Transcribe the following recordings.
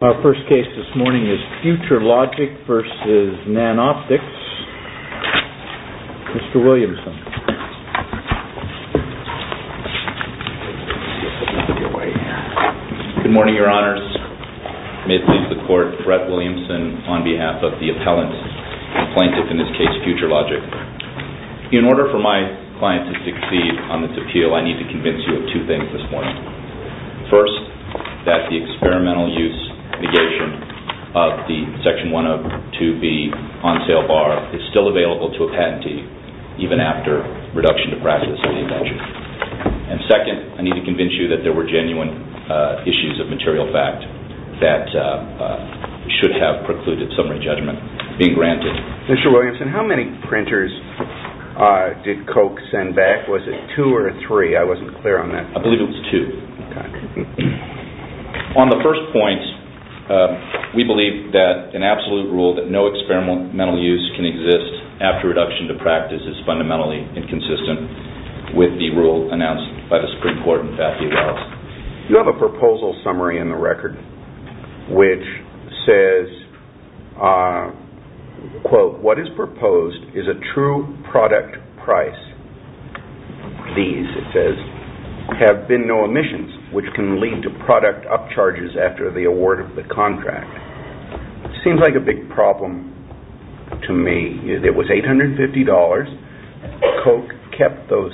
Our first case this morning is FUTURELOGIC v. NANOPTIX. Mr. Williamson. Good morning, your honors. May it please the court, Brett Williamson on behalf of the appellant, the plaintiff in this case, FUTURELOGIC. In order for my client to succeed on this appeal, I need to convince you of two things this morning. First, that the experimental use negation of the Section 102B on sale bar is still available to a patentee even after reduction to practice of the invention. And second, I need to convince you that there were genuine issues of material fact that should have precluded summary judgment being granted. Mr. Williamson, how many printers did Koch send back? Was it two or three? I wasn't clear on that. I believe it was two. On the first point, we believe that an absolute rule that no experimental use can exist after reduction to practice is fundamentally inconsistent with the rule announced by the Supreme Court You have a proposal summary in the record which says, quote, What is proposed is a true product price. These, it says, have been no emissions, which can lead to product upcharges after the award of the contract. Seems like a big problem to me. It was $850. Koch kept those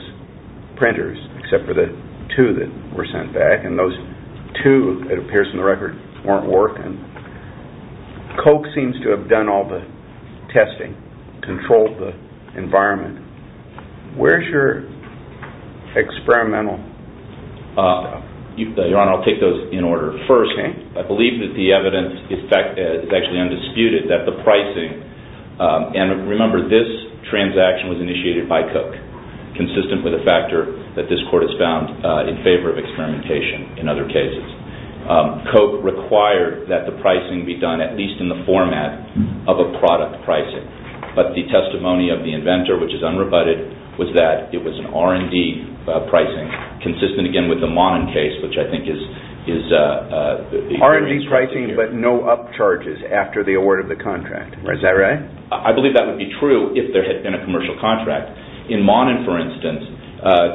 printers, except for the two that were sent back. And those two, it appears in the record, weren't working. Koch seems to have done all the testing, controlled the environment. Where's your experimental? Your Honor, I'll take those in order. First, I believe that the evidence is actually undisputed that the pricing and remember this transaction was initiated by Koch, consistent with a factor that this court has found in favor of experimentation in other cases. Koch required that the pricing be done at least in the format of a product pricing. But the testimony of the inventor, which is unrebutted, was that it was an R&D pricing consistent again with the Monin case, which I think is... R&D pricing, but no upcharges after the award of the contract. Is that right? I believe that would be true if there had been a commercial contract. In Monin, for instance,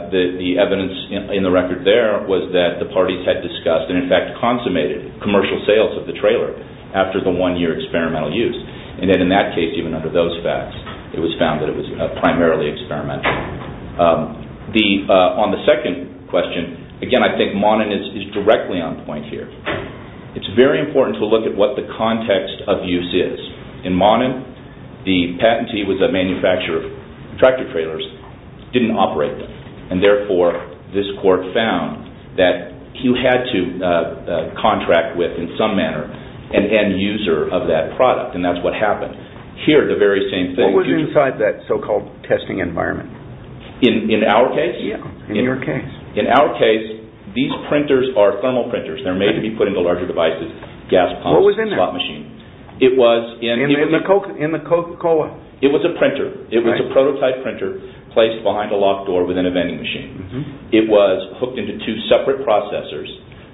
the evidence in the record there was that the parties had discussed and in fact consummated commercial sales of the trailer after the one year experimental use. And then in that case, even under those facts, it was found that it was primarily experimental. On the second question, again, I think Monin is directly on point here. It's very important to look at what the context of use is. In Monin, the patentee was a manufacturer of tractor trailers, didn't operate them and therefore this court found that you had to contract with, in some manner, an end user of that product and that's what happened. Here, the very same thing... What was inside that so-called testing environment? In our case? Yes, in your case. In our case, these printers are thermal printers. They're made to be put into larger devices, gas pumps, slot machines. What was in there? It was... In the Coca-Cola? It was a printer. It was a prototype printer placed behind a locked door within a vending machine. It was hooked into two separate processors,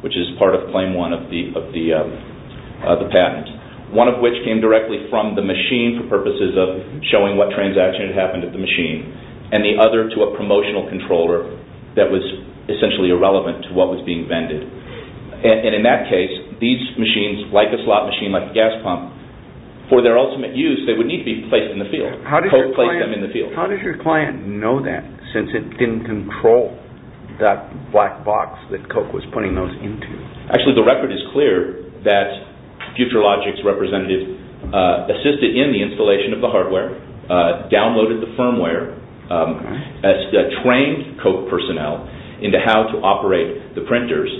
which is part of claim one of the patent. One of which came directly from the machine for purposes of showing what transaction had happened at the machine and the other to a promotional controller that was essentially irrelevant to what was being vended. In that case, these machines, like a slot machine, like a gas pump, for their ultimate use, they would need to be placed in the field. Coke placed them in the field. How did your client know that since it didn't control that black box that Coke was putting those into? Actually, the record is clear that FutureLogic's representative assisted in the installation of the hardware, downloaded the firmware, trained Coke personnel into how to operate the printers,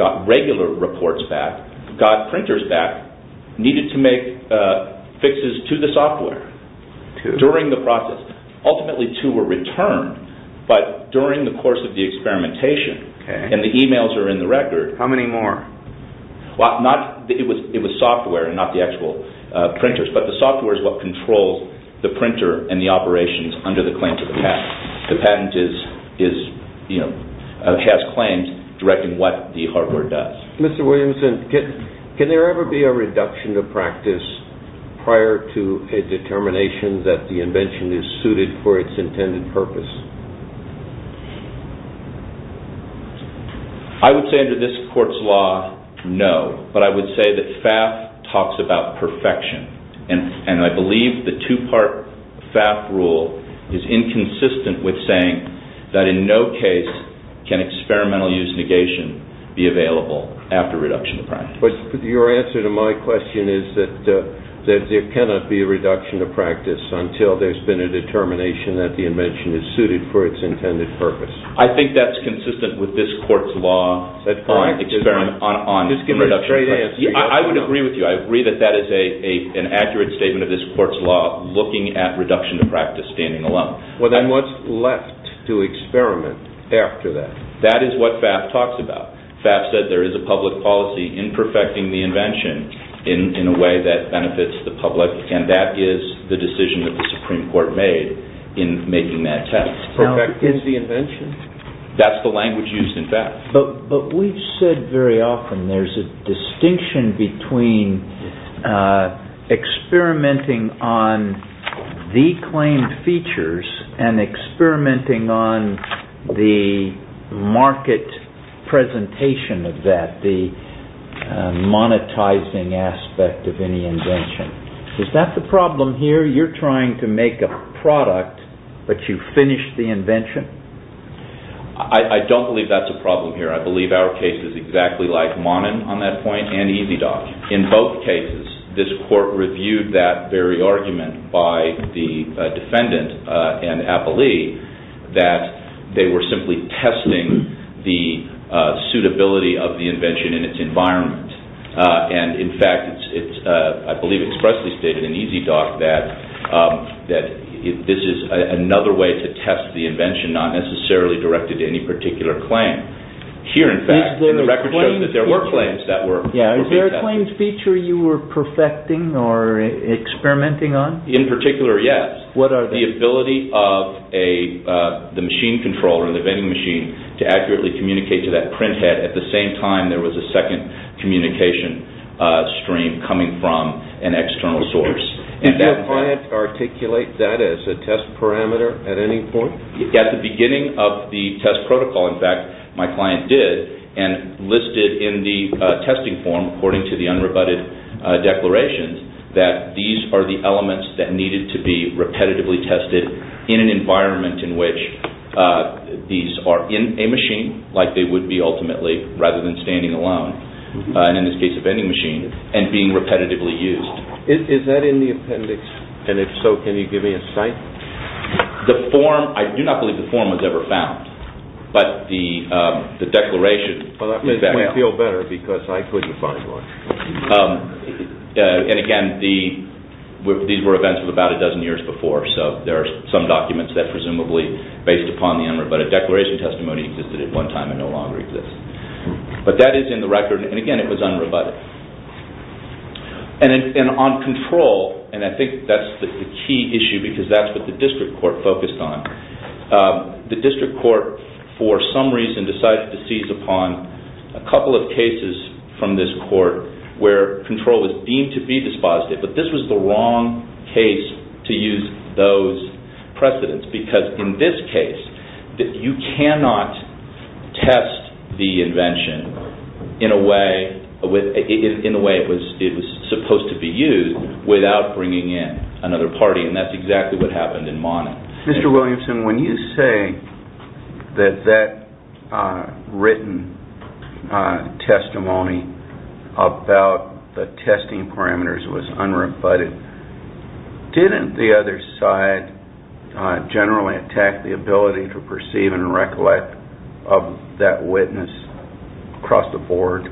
got regular reports back, got printers back, needed to make fixes to the software during the process. Ultimately, two were returned, but during the course of the experimentation, and the emails are in the record... How many more? It was software and not the actual printers, but the software is what controls the printer and the operations under the claims of the patent. The patent has claims directing what the hardware does. Mr. Williamson, can there ever be a reduction to practice prior to a determination that the invention is suited for its intended purpose? I would say under this court's law, no, but I would say that FAF talks about perfection, and I believe the two-part FAF rule is inconsistent with saying that in no case can experimental use negation be available after reduction to practice. But your answer to my question is that there cannot be a reduction to practice until there's been a determination that the invention is suited for its intended purpose. I think that's consistent with this court's law on reduction to practice. I would agree with you. I agree that that is an accurate statement of this court's law looking at reduction to practice standing alone. Well, then what's left to experiment after that? That is what FAF talks about. FAF said there is a public policy in perfecting the invention in a way that benefits the public, and that is the decision that the Supreme Court made in making that test. Perfecting the invention? That's the language used in FAF. But we've said very often there's a distinction between experimenting on the claimed features and experimenting on the market presentation of that, the monetizing aspect of any invention. Is that the problem here? You're trying to make a product, but you finish the invention? I don't believe that's a problem here. I believe our case is exactly like Monin on that point and EZDoc. In both cases, this court reviewed that very argument by the defendant and appellee that they were simply testing the suitability of the invention in its environment. In fact, I believe it expressly stated in EZDoc that this is another way to test the invention, not necessarily directed to any particular claim. Here, in fact, the record shows that there were claims that were being tested. Is there a claimed feature you were perfecting or experimenting on? In particular, yes. What are they? The ability of the machine controller, the vending machine, to accurately communicate to that printhead. At the same time, there was a second communication stream coming from an external source. Did your client articulate that as a test parameter at any point? At the beginning of the test protocol, in fact, my client did, and listed in the testing form according to the unrebutted declaration that these are the elements that needed to be repetitively tested in an environment in which these are in a machine, like they would be ultimately, rather than standing alone, and in this case, a vending machine, and being repetitively used. Is that in the appendix, and if so, can you give me a cite? The form, I do not believe the form was ever found, but the declaration… Well, that makes me feel better because I couldn't find one. And again, these were events of about a dozen years before, so there are some documents that presumably based upon the unrebutted declaration testimony existed at one time and no longer exist. But that is in the record, and again, it was unrebutted. And on control, and I think that's the key issue because that's what the district court focused on. The district court, for some reason, decided to seize upon a couple of cases from this court where control was deemed to be dispositive, but this was the wrong case to use those precedents because in this case, you cannot test the invention in a way it was supposed to be used without bringing in another party, and that's exactly what happened in Monmouth. Mr. Williamson, when you say that that written testimony about the testing parameters was unrebutted, didn't the other side generally attack the ability to perceive and recollect of that witness across the board?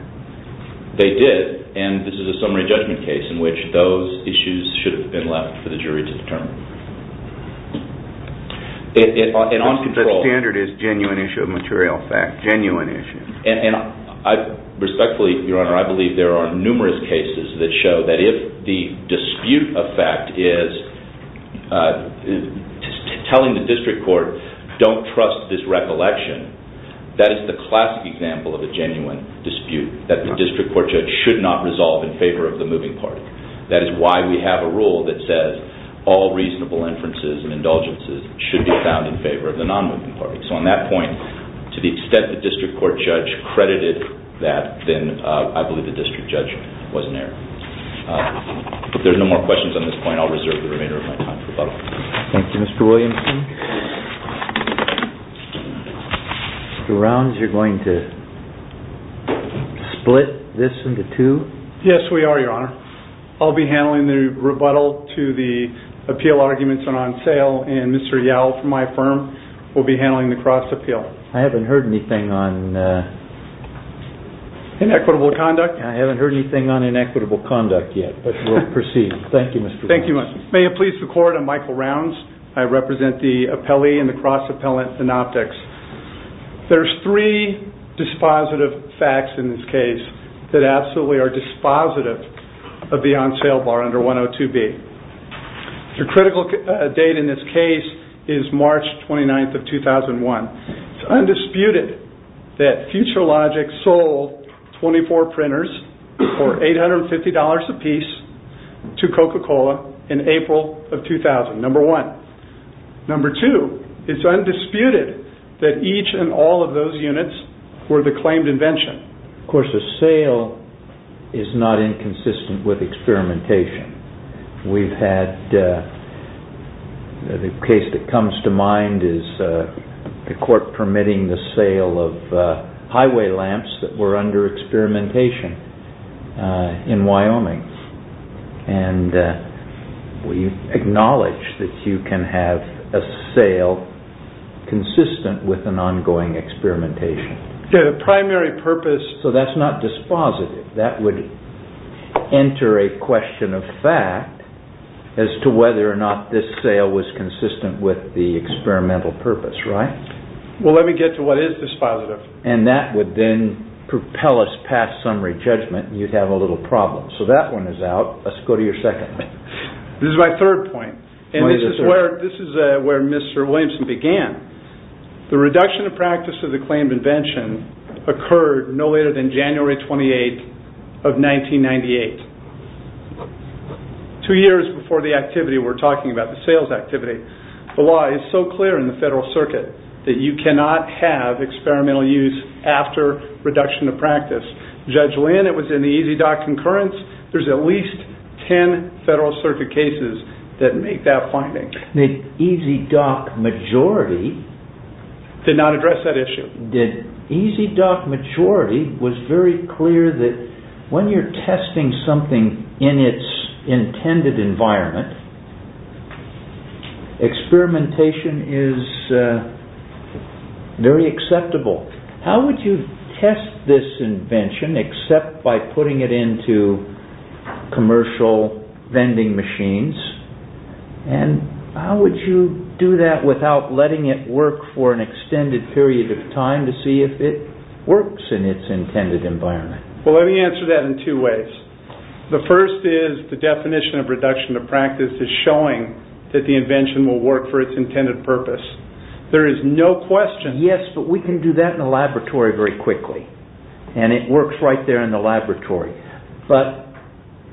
They did, and this is a summary judgment case in which those issues should have been left for the jury to determine. The standard is genuine issue of material fact, genuine issue. And respectfully, Your Honor, I believe there are numerous cases that show that if the dispute of fact is telling the district court, don't trust this recollection, that is the classic example of a genuine dispute that the district court judge should not resolve in favor of the moving party. That is why we have a rule that says all reasonable inferences and indulgences should be found in favor of the non-moving party. So on that point, to the extent the district court judge credited that, then I believe the district judge was in error. If there are no more questions on this point, I'll reserve the remainder of my time for rebuttal. Thank you, Mr. Williamson. Mr. Rounds, you're going to split this into two? Yes, we are, Your Honor. I'll be handling the rebuttal to the appeal arguments on on sale, and Mr. Yow from my firm will be handling the cross appeal. I haven't heard anything on... Inequitable conduct. I haven't heard anything on inequitable conduct yet, but we'll proceed. Thank you, Mr. Williams. Thank you, Mr. Williams. May it please the court, I'm Michael Rounds. I represent the appellee in the cross appellant synoptics. There's three dispositive facts in this case that absolutely are dispositive of the on sale bar under 102B. The critical date in this case is March 29th of 2001. It's undisputed that Future Logic sold 24 printers for $850 apiece to Coca-Cola in April of 2000, number one. Number two, it's undisputed that each and all of those units were the claimed invention. Of course, a sale is not inconsistent with experimentation. We've had the case that comes to mind is the court permitting the sale of highway lamps that were under experimentation in Wyoming, and we acknowledge that you can have a sale consistent with an ongoing experimentation. The primary purpose... as to whether or not this sale was consistent with the experimental purpose, right? Well, let me get to what is dispositive. And that would then propel us past summary judgment, and you'd have a little problem. So that one is out. Let's go to your second one. This is my third point, and this is where Mr. Williams began. The reduction of practice of the claimed invention occurred no later than January 28th of 1998. Two years before the activity we're talking about, the sales activity. The law is so clear in the Federal Circuit that you cannot have experimental use after reduction of practice. Judge Lynn, it was in the EZDoc concurrence. There's at least 10 Federal Circuit cases that make that finding. The EZDoc majority... Did not address that issue. The EZDoc majority was very clear that when you're testing something in its intended environment, experimentation is very acceptable. How would you test this invention except by putting it into commercial vending machines? And how would you do that without letting it work for an extended period of time to see if it works in its intended environment? Well, let me answer that in two ways. The first is the definition of reduction of practice is showing that the invention will work for its intended purpose. There is no question... Yes, but we can do that in a laboratory very quickly, and it works right there in the laboratory. But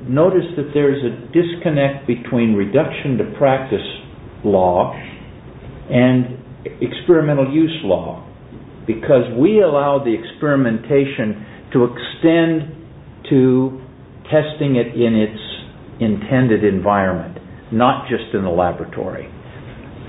notice that there is a disconnect between reduction to practice law and experimental use law, because we allow the experimentation to extend to testing it in its intended environment, not just in the laboratory.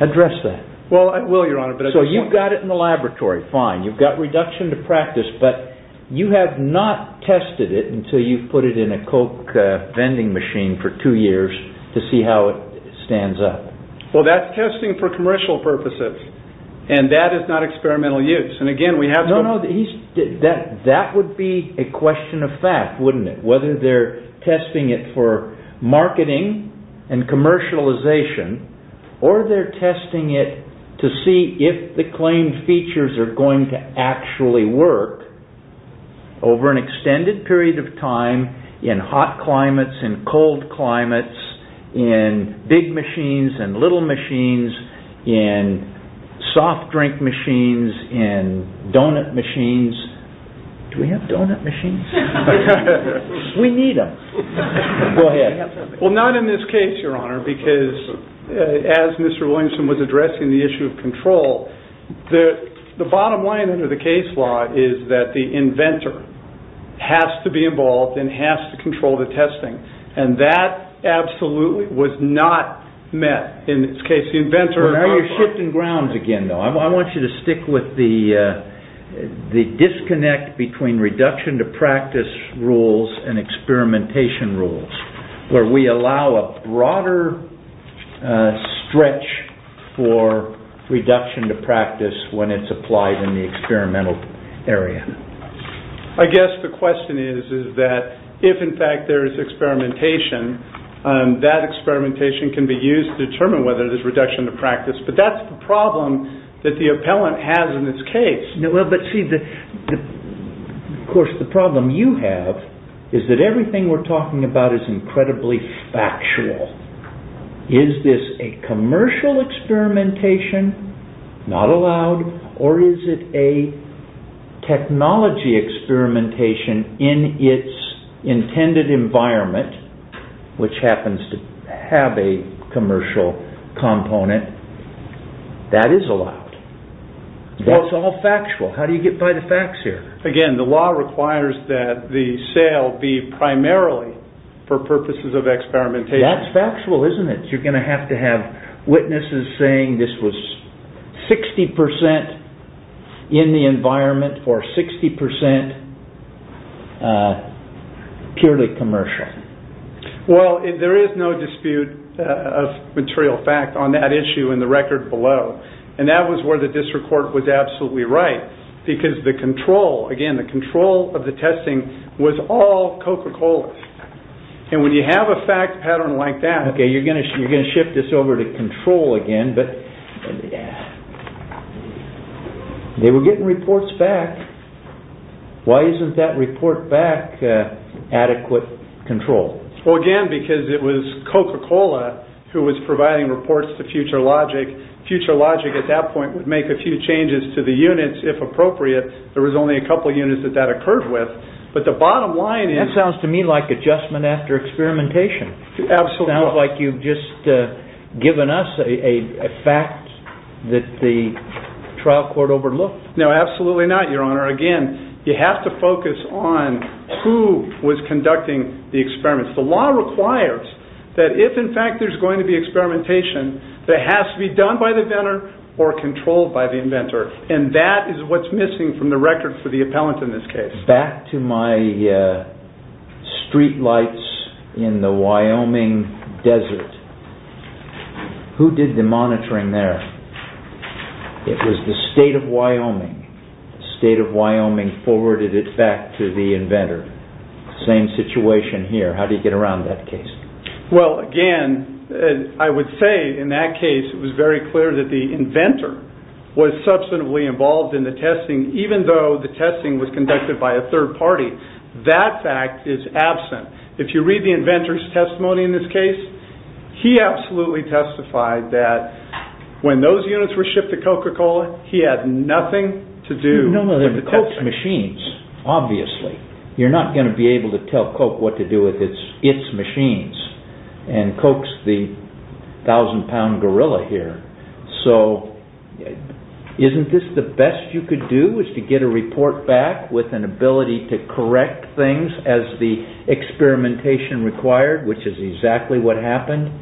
Address that. Well, I will, Your Honor, but... So you've got it in the laboratory, fine. You've got reduction to practice, but you have not tested it until you've put it in a Coke vending machine for two years to see how it stands up. Well, that's testing for commercial purposes, and that is not experimental use. And again, we have to... No, no, that would be a question of fact, wouldn't it, whether they're testing it for marketing and commercialization or they're testing it to see if the claimed features are going to actually work over an extended period of time in hot climates, in cold climates, in big machines, in little machines, in soft drink machines, in donut machines. Do we have donut machines? We need them. Go ahead. Well, not in this case, Your Honor, because as Mr. Williamson was addressing the issue of control, the bottom line under the case law is that the inventor has to be involved and has to control the testing, and that absolutely was not met. In this case, the inventor... Well, now you're shifting grounds again, though. I want you to stick with the disconnect between reduction-to-practice rules and experimentation rules, where we allow a broader stretch for reduction-to-practice when it's applied in the experimental area. I guess the question is that if, in fact, there is experimentation, that experimentation can be used to determine whether there's reduction-to-practice, but that's the problem that the appellant has in this case. No, but see, of course, the problem you have is that everything we're talking about is incredibly factual. Is this a commercial experimentation? Not allowed. Or is it a technology experimentation in its intended environment, which happens to have a commercial component? That is allowed. Well, it's all factual. How do you get by the facts here? Again, the law requires that the sale be primarily for purposes of experimentation. That's factual, isn't it? You're going to have to have witnesses saying this was 60% in the environment for 60% purely commercial. Well, there is no dispute of material fact on that issue in the record below, and that was where the district court was absolutely right, because the control, again, the control of the testing was all Coca-Cola. And when you have a fact pattern like that... Okay, you're going to shift this over to control again, but they were getting reports back. Why isn't that report back adequate control? Well, again, because it was Coca-Cola who was providing reports to FutureLogic. FutureLogic at that point would make a few changes to the units if appropriate. There was only a couple units that that occurred with, but the bottom line is... That sounds to me like adjustment after experimentation. Absolutely. It sounds like you've just given us a fact that the trial court overlooked. No, absolutely not, Your Honor. Again, you have to focus on who was conducting the experiments. The law requires that if, in fact, there's going to be experimentation, that it has to be done by the inventor or controlled by the inventor, and that is what's missing from the record for the appellant in this case. Back to my streetlights in the Wyoming desert. Who did the monitoring there? It was the state of Wyoming. The state of Wyoming forwarded it back to the inventor. Same situation here. How do you get around that case? Well, again, I would say in that case it was very clear that the inventor was substantively involved in the testing, even though the testing was conducted by a third party. That fact is absent. If you read the inventor's testimony in this case, he absolutely testified that when those units were shipped to Coca-Cola, he had nothing to do with the testing. No, no, they're Coke's machines, obviously. You're not going to be able to tell Coke what to do with its machines, and Coke's the thousand-pound gorilla here. So isn't this the best you could do is to get a report back with an ability to correct things as the experimentation required, which is exactly what happened?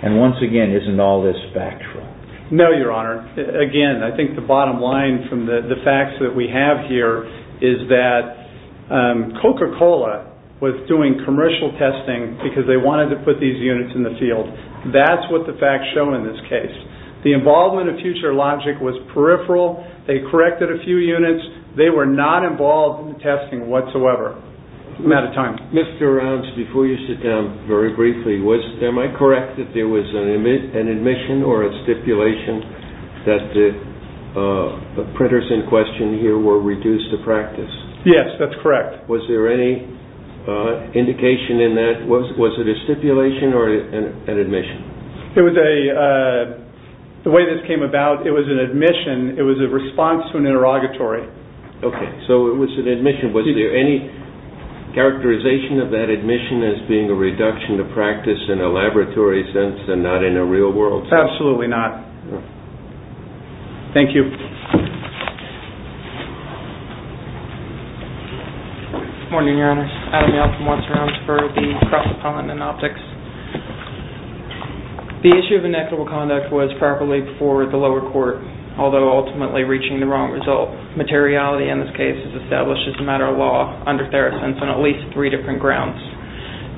And once again, isn't all this factual? No, Your Honor. Again, I think the bottom line from the facts that we have here is that Coca-Cola was doing commercial testing because they wanted to put these units in the field. That's what the facts show in this case. The involvement of Future Logic was peripheral. They corrected a few units. They were not involved in the testing whatsoever. I'm out of time. Mr. Rounds, before you sit down very briefly, am I correct that there was an admission or a stipulation that the printers in question here were reduced to practice? Yes, that's correct. Was there any indication in that? Was it a stipulation or an admission? The way this came about, it was an admission. It was a response to an interrogatory. Okay, so it was an admission. Was there any characterization of that admission as being a reduction to practice in a laboratory sense and not in a real world sense? Absolutely not. Thank you. Good morning, Your Honors. Adam Yeltsin, Watson, Rounds for the Cross Appellant and Optics. The issue of inequitable conduct was properly before the lower court, although ultimately reaching the wrong result. Materiality in this case is established as a matter of law under Theracense on at least three different grounds.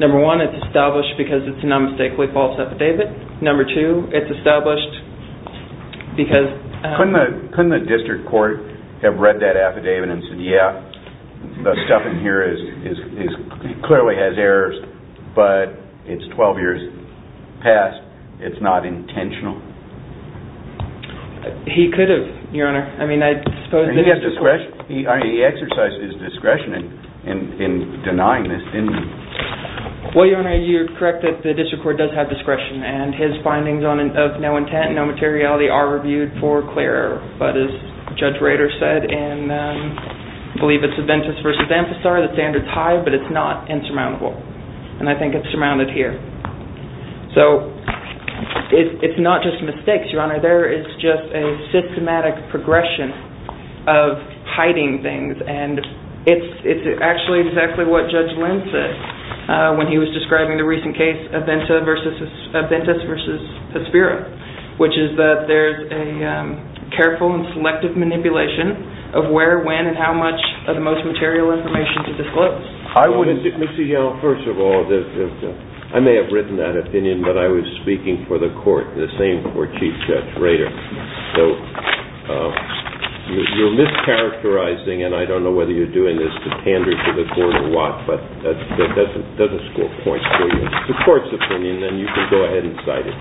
Number one, it's established because it's an unmistakably false affidavit. Number two, it's established because... Couldn't the district court have read that affidavit and said, yeah, the stuff in here clearly has errors, but it's 12 years past. It's not intentional. He could have, Your Honor. He exercised his discretion in denying this, didn't he? Well, Your Honor, you're correct that the district court does have discretion and his findings of no intent, no materiality are reviewed for clear error. But as Judge Rader said, and I believe it's Aventis v. Amphisar, the standard's high, but it's not insurmountable. And I think it's surmounted here. So it's not just mistakes, Your Honor. There is just a systematic progression of hiding things, and it's actually exactly what Judge Lynn said when he was describing the recent case, Aventis v. Hespera, which is that there's a careful and selective manipulation of where, when, and how much of the most material information to disclose. Let me see, first of all, I may have written that opinion, but I was speaking for the court, the same for Chief Judge Rader. So you're mischaracterizing, and I don't know whether you're doing this to pander to the court or what, but that doesn't score points for you. It's the court's opinion, and you can go ahead and cite it.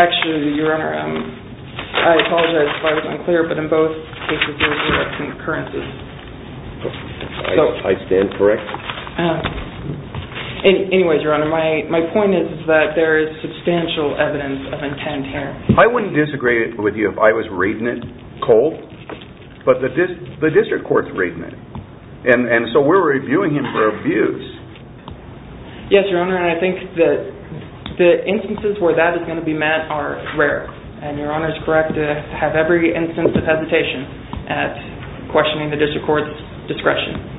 Actually, Your Honor, I apologize if I was unclear, but in both cases there were some occurrences. I stand corrected. Anyways, Your Honor, my point is that there is substantial evidence of intent here. I wouldn't disagree with you if I was reading it cold, but the district court's reading it, and so we're reviewing him for abuse. Yes, Your Honor, and I think that the instances where that is going to be met are rare, and Your Honor is correct to have every instance of hesitation at questioning the district court's discretion.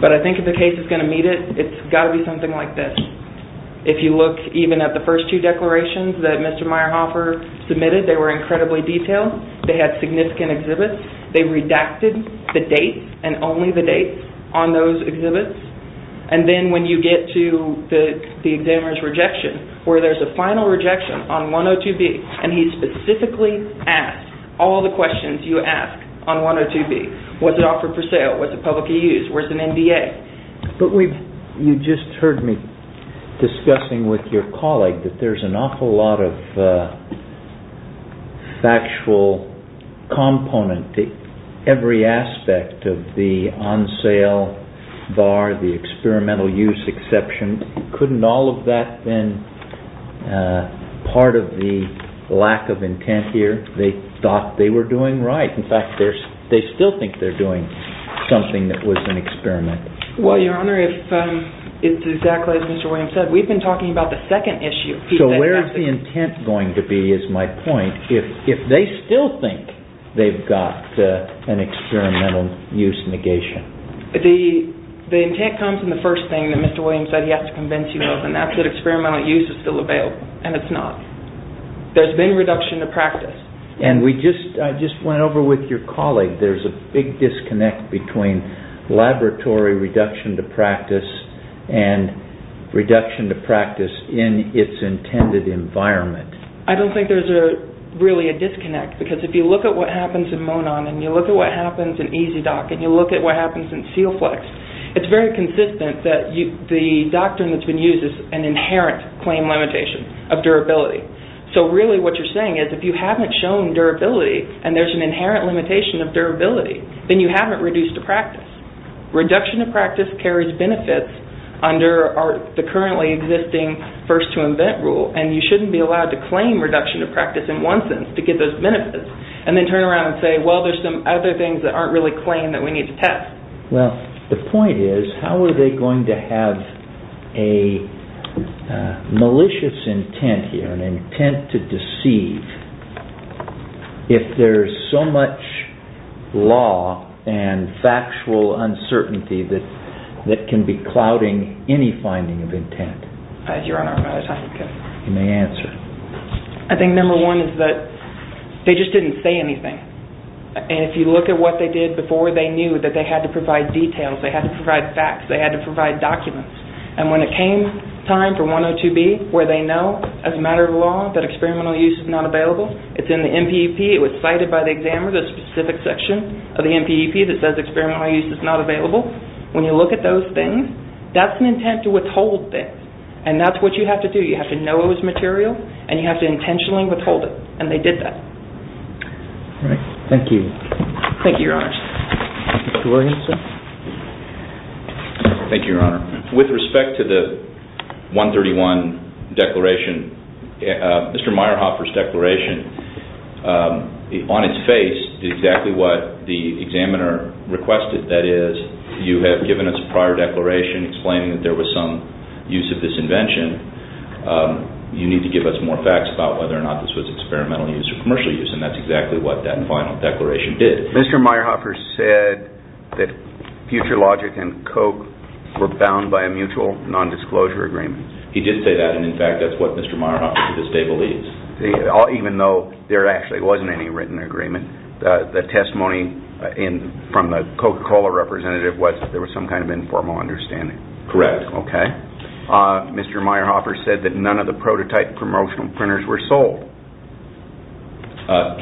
But I think if the case is going to meet it, it's got to be something like this. If you look even at the first two declarations that Mr. Meyerhofer submitted, they were incredibly detailed. They had significant exhibits. They redacted the date and only the date on those exhibits, and then when you get to the examiner's rejection, where there's a final rejection on 102B, and he specifically asked all the questions you ask on 102B. Was it offered for sale? Was it publicly used? Where's the NDA? But you just heard me discussing with your colleague that there's an awful lot of factual component. Every aspect of the on-sale bar, the experimental use exception, couldn't all of that have been part of the lack of intent here? They thought they were doing right. In fact, they still think they're doing something that was an experiment. Well, Your Honor, if it's exactly as Mr. Williams said, we've been talking about the second issue. So where is the intent going to be, is my point, if they still think they've got an experimental use negation? The intent comes in the first thing that Mr. Williams said he has to convince you of, and that's that experimental use is still available, and it's not. There's been reduction to practice. I just went over with your colleague, there's a big disconnect between laboratory reduction to practice and reduction to practice in its intended environment. I don't think there's really a disconnect, because if you look at what happens in Monon, and you look at what happens in EZ-DOC, and you look at what happens in SealFlex, it's very consistent that the doctrine that's been used is an inherent claim limitation of durability. So really what you're saying is if you haven't shown durability and there's an inherent limitation of durability, then you haven't reduced to practice. Reduction to practice carries benefits under the currently existing first-to-invent rule, and you shouldn't be allowed to claim reduction to practice in one sense to get those benefits, and then turn around and say, well, there's some other things that aren't really claimed that we need to test. Well, the point is, how are they going to have a malicious intent here, an intent to deceive, if there's so much law and factual uncertainty that can be clouding any finding of intent? You may answer. I think number one is that they just didn't say anything. And if you look at what they did before, they knew that they had to provide details, they had to provide facts, they had to provide documents. And when it came time for 102B, where they know as a matter of law that experimental use is not available, it's in the NPEP, it was cited by the examiner, the specific section of the NPEP that says experimental use is not available. When you look at those things, that's an intent to withhold things. And that's what you have to do. You have to know it was material, and you have to intentionally withhold it. And they did that. All right. Thank you. Thank you, Your Honors. Thank you, Your Honor. With respect to the 131 declaration, Mr. Meyerhofer's declaration, on its face, did exactly what the examiner requested. That is, you have given us a prior declaration explaining that there was some use of this invention. You need to give us more facts about whether or not this was experimental use or commercial use. And that's exactly what that final declaration did. Mr. Meyerhofer said that FutureLogic and Coke were bound by a mutual nondisclosure agreement. He did say that. And, in fact, that's what Mr. Meyerhofer to this day believes. Even though there actually wasn't any written agreement, the testimony from the Coca-Cola representative was that there was some kind of informal understanding. Correct. Okay. Mr. Meyerhofer said that none of the prototype promotional printers were sold.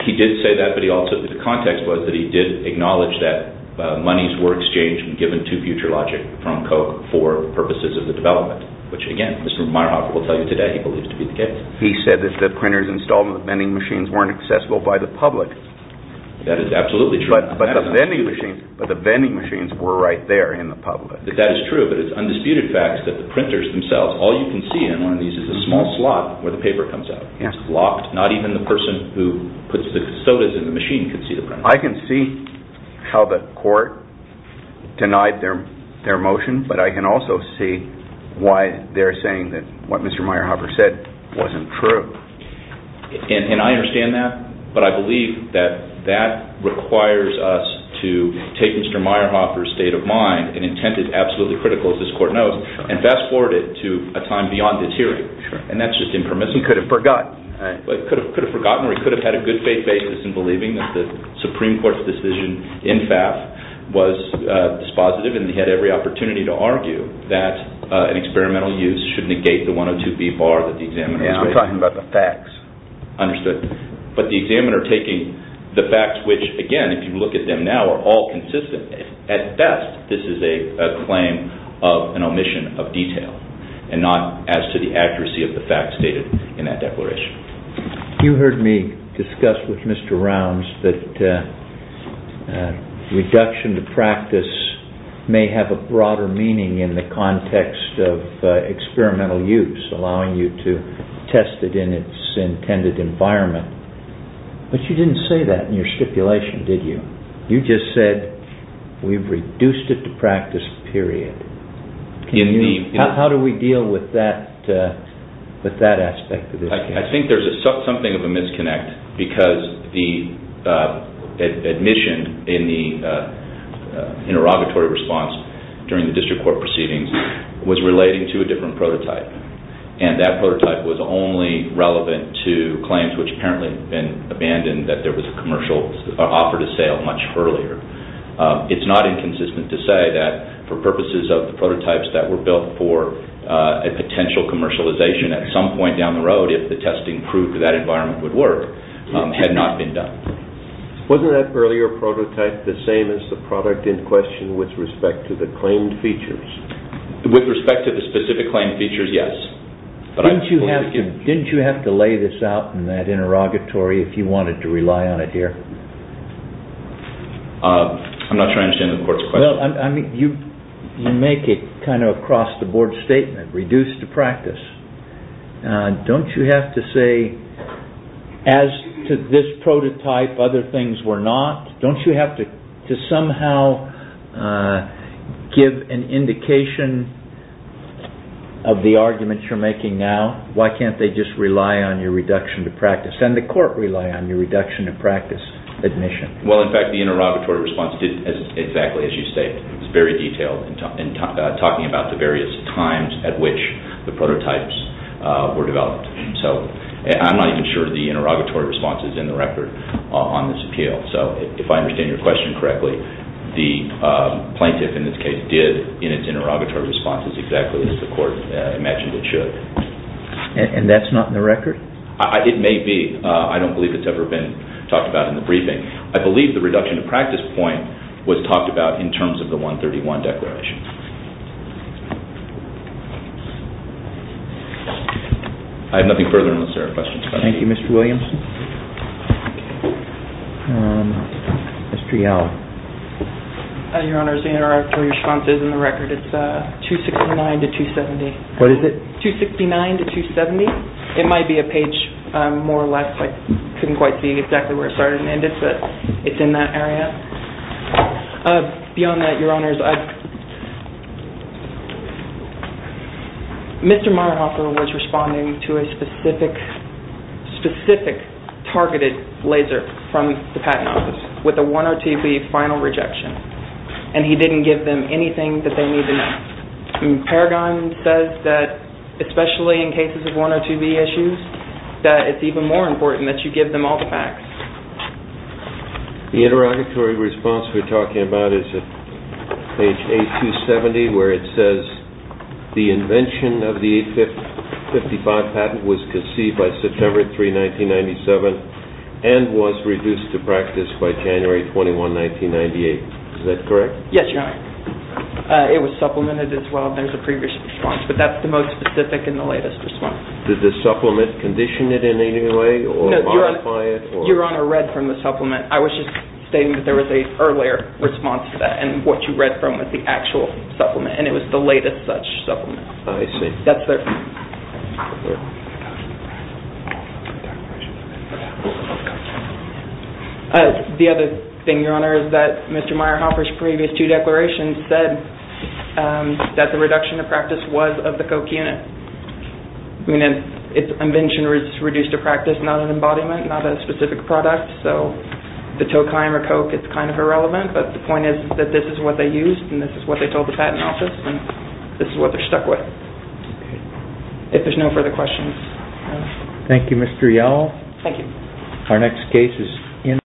He did say that, but the context was that he did acknowledge that monies were exchanged and given to FutureLogic from Coke for purposes of the development, which, again, Mr. Meyerhofer will tell you today he believes to be the case. He said that the printers installed in the vending machines weren't accessible by the public. That is absolutely true. But the vending machines were right there in the public. That is true, but it's undisputed fact that the printers themselves, all you can see in one of these is a small slot where the paper comes out. It's locked. Not even the person who puts the sodas in the machine can see the printer. I can see how the court denied their motion, but I can also see why they're saying that what Mr. Meyerhofer said wasn't true. And I understand that, but I believe that that requires us to take Mr. Meyerhofer's state of mind, an intent that's absolutely critical, as this court knows, and fast-forward it to a time beyond this hearing, and that's just impermissible. He could have forgotten. He could have forgotten or he could have had a good faith basis in believing that the Supreme Court's decision in FAF was dispositive, and he had every opportunity to argue that an experimental use should negate the 102B bar that the examiner was raising. We're talking about the facts. Understood. But the examiner taking the facts, which, again, if you look at them now are all consistent. At best, this is a claim of an omission of detail and not as to the accuracy of the facts stated in that declaration. You heard me discuss with Mr. Rounds that reduction to practice may have a broader meaning in the context of experimental use, allowing you to test it in its intended environment, but you didn't say that in your stipulation, did you? You just said we've reduced it to practice, period. How do we deal with that aspect of this case? I think there's something of a misconnect because the admission in the interrogatory response during the district court proceedings was relating to a different prototype, and that prototype was only relevant to claims which apparently had been abandoned that there was a commercial offer to sale much earlier. It's not inconsistent to say that for purposes of the prototypes that were built for a potential commercialization at some point down the road, if the testing proved that environment would work, had not been done. Wasn't that earlier prototype the same as the product in question with respect to the claimed features? With respect to the specific claimed features, yes. Didn't you have to lay this out in that interrogatory if you wanted to rely on it here? I'm not sure I understand the court's question. You make it kind of across the board statement, reduced to practice. Don't you have to say, as to this prototype, other things were not? Don't you have to somehow give an indication of the argument you're making now? Why can't they just rely on your reduction to practice? Doesn't the court rely on your reduction to practice admission? In fact, the interrogatory response did exactly as you state. It was very detailed in talking about the various times at which the prototypes were developed. I'm not even sure the interrogatory response is in the record on this appeal. If I understand your question correctly, the plaintiff, in this case, did in its interrogatory response exactly as the court imagined it should. That's not in the record? It may be. I don't believe it's ever been talked about in the briefing. I believe the reduction to practice point was talked about in terms of the 131 declaration. I have nothing further unless there are questions. Thank you, Mr. Williamson. Mr. Yall. Your Honor, the interrogatory response is in the record. It's 269 to 270. What is it? 269 to 270. It might be a page more or less. I couldn't quite see exactly where it started and ended, but it's in that area. Beyond that, Your Honors, Mr. Marhoffer was responding to a specific targeted laser from the patent office with a 102B final rejection, and he didn't give them anything that they need to know. Paragon says that, especially in cases of 102B issues, that it's even more important that you give them all the facts. The interrogatory response we're talking about is at page 8270 where it says the invention of the 855 patent was conceived by September 3, 1997, and was reduced to practice by January 21, 1998. Is that correct? Yes, Your Honor. It was supplemented as well. There's a previous response, but that's the most specific and the latest response. Did the supplement condition it in any way or modify it? No, Your Honor. Your Honor read from the supplement. I was just stating that there was an earlier response to that, and what you read from was the actual supplement, and it was the latest such supplement. I see. That's there. The other thing, Your Honor, is that Mr. Meyerhofer's previous two declarations said that the reduction of practice was of the Koch unit. I mean, it's invention reduced to practice, not an embodiment, not a specific product, so the Tokheim or Koch, it's kind of irrelevant, but the point is that this is what they used, and this is what they told the patent office, and this is what they're stuck with. If there's no further questions. Thank you, Mr. Yell. Thank you. Our next case is in.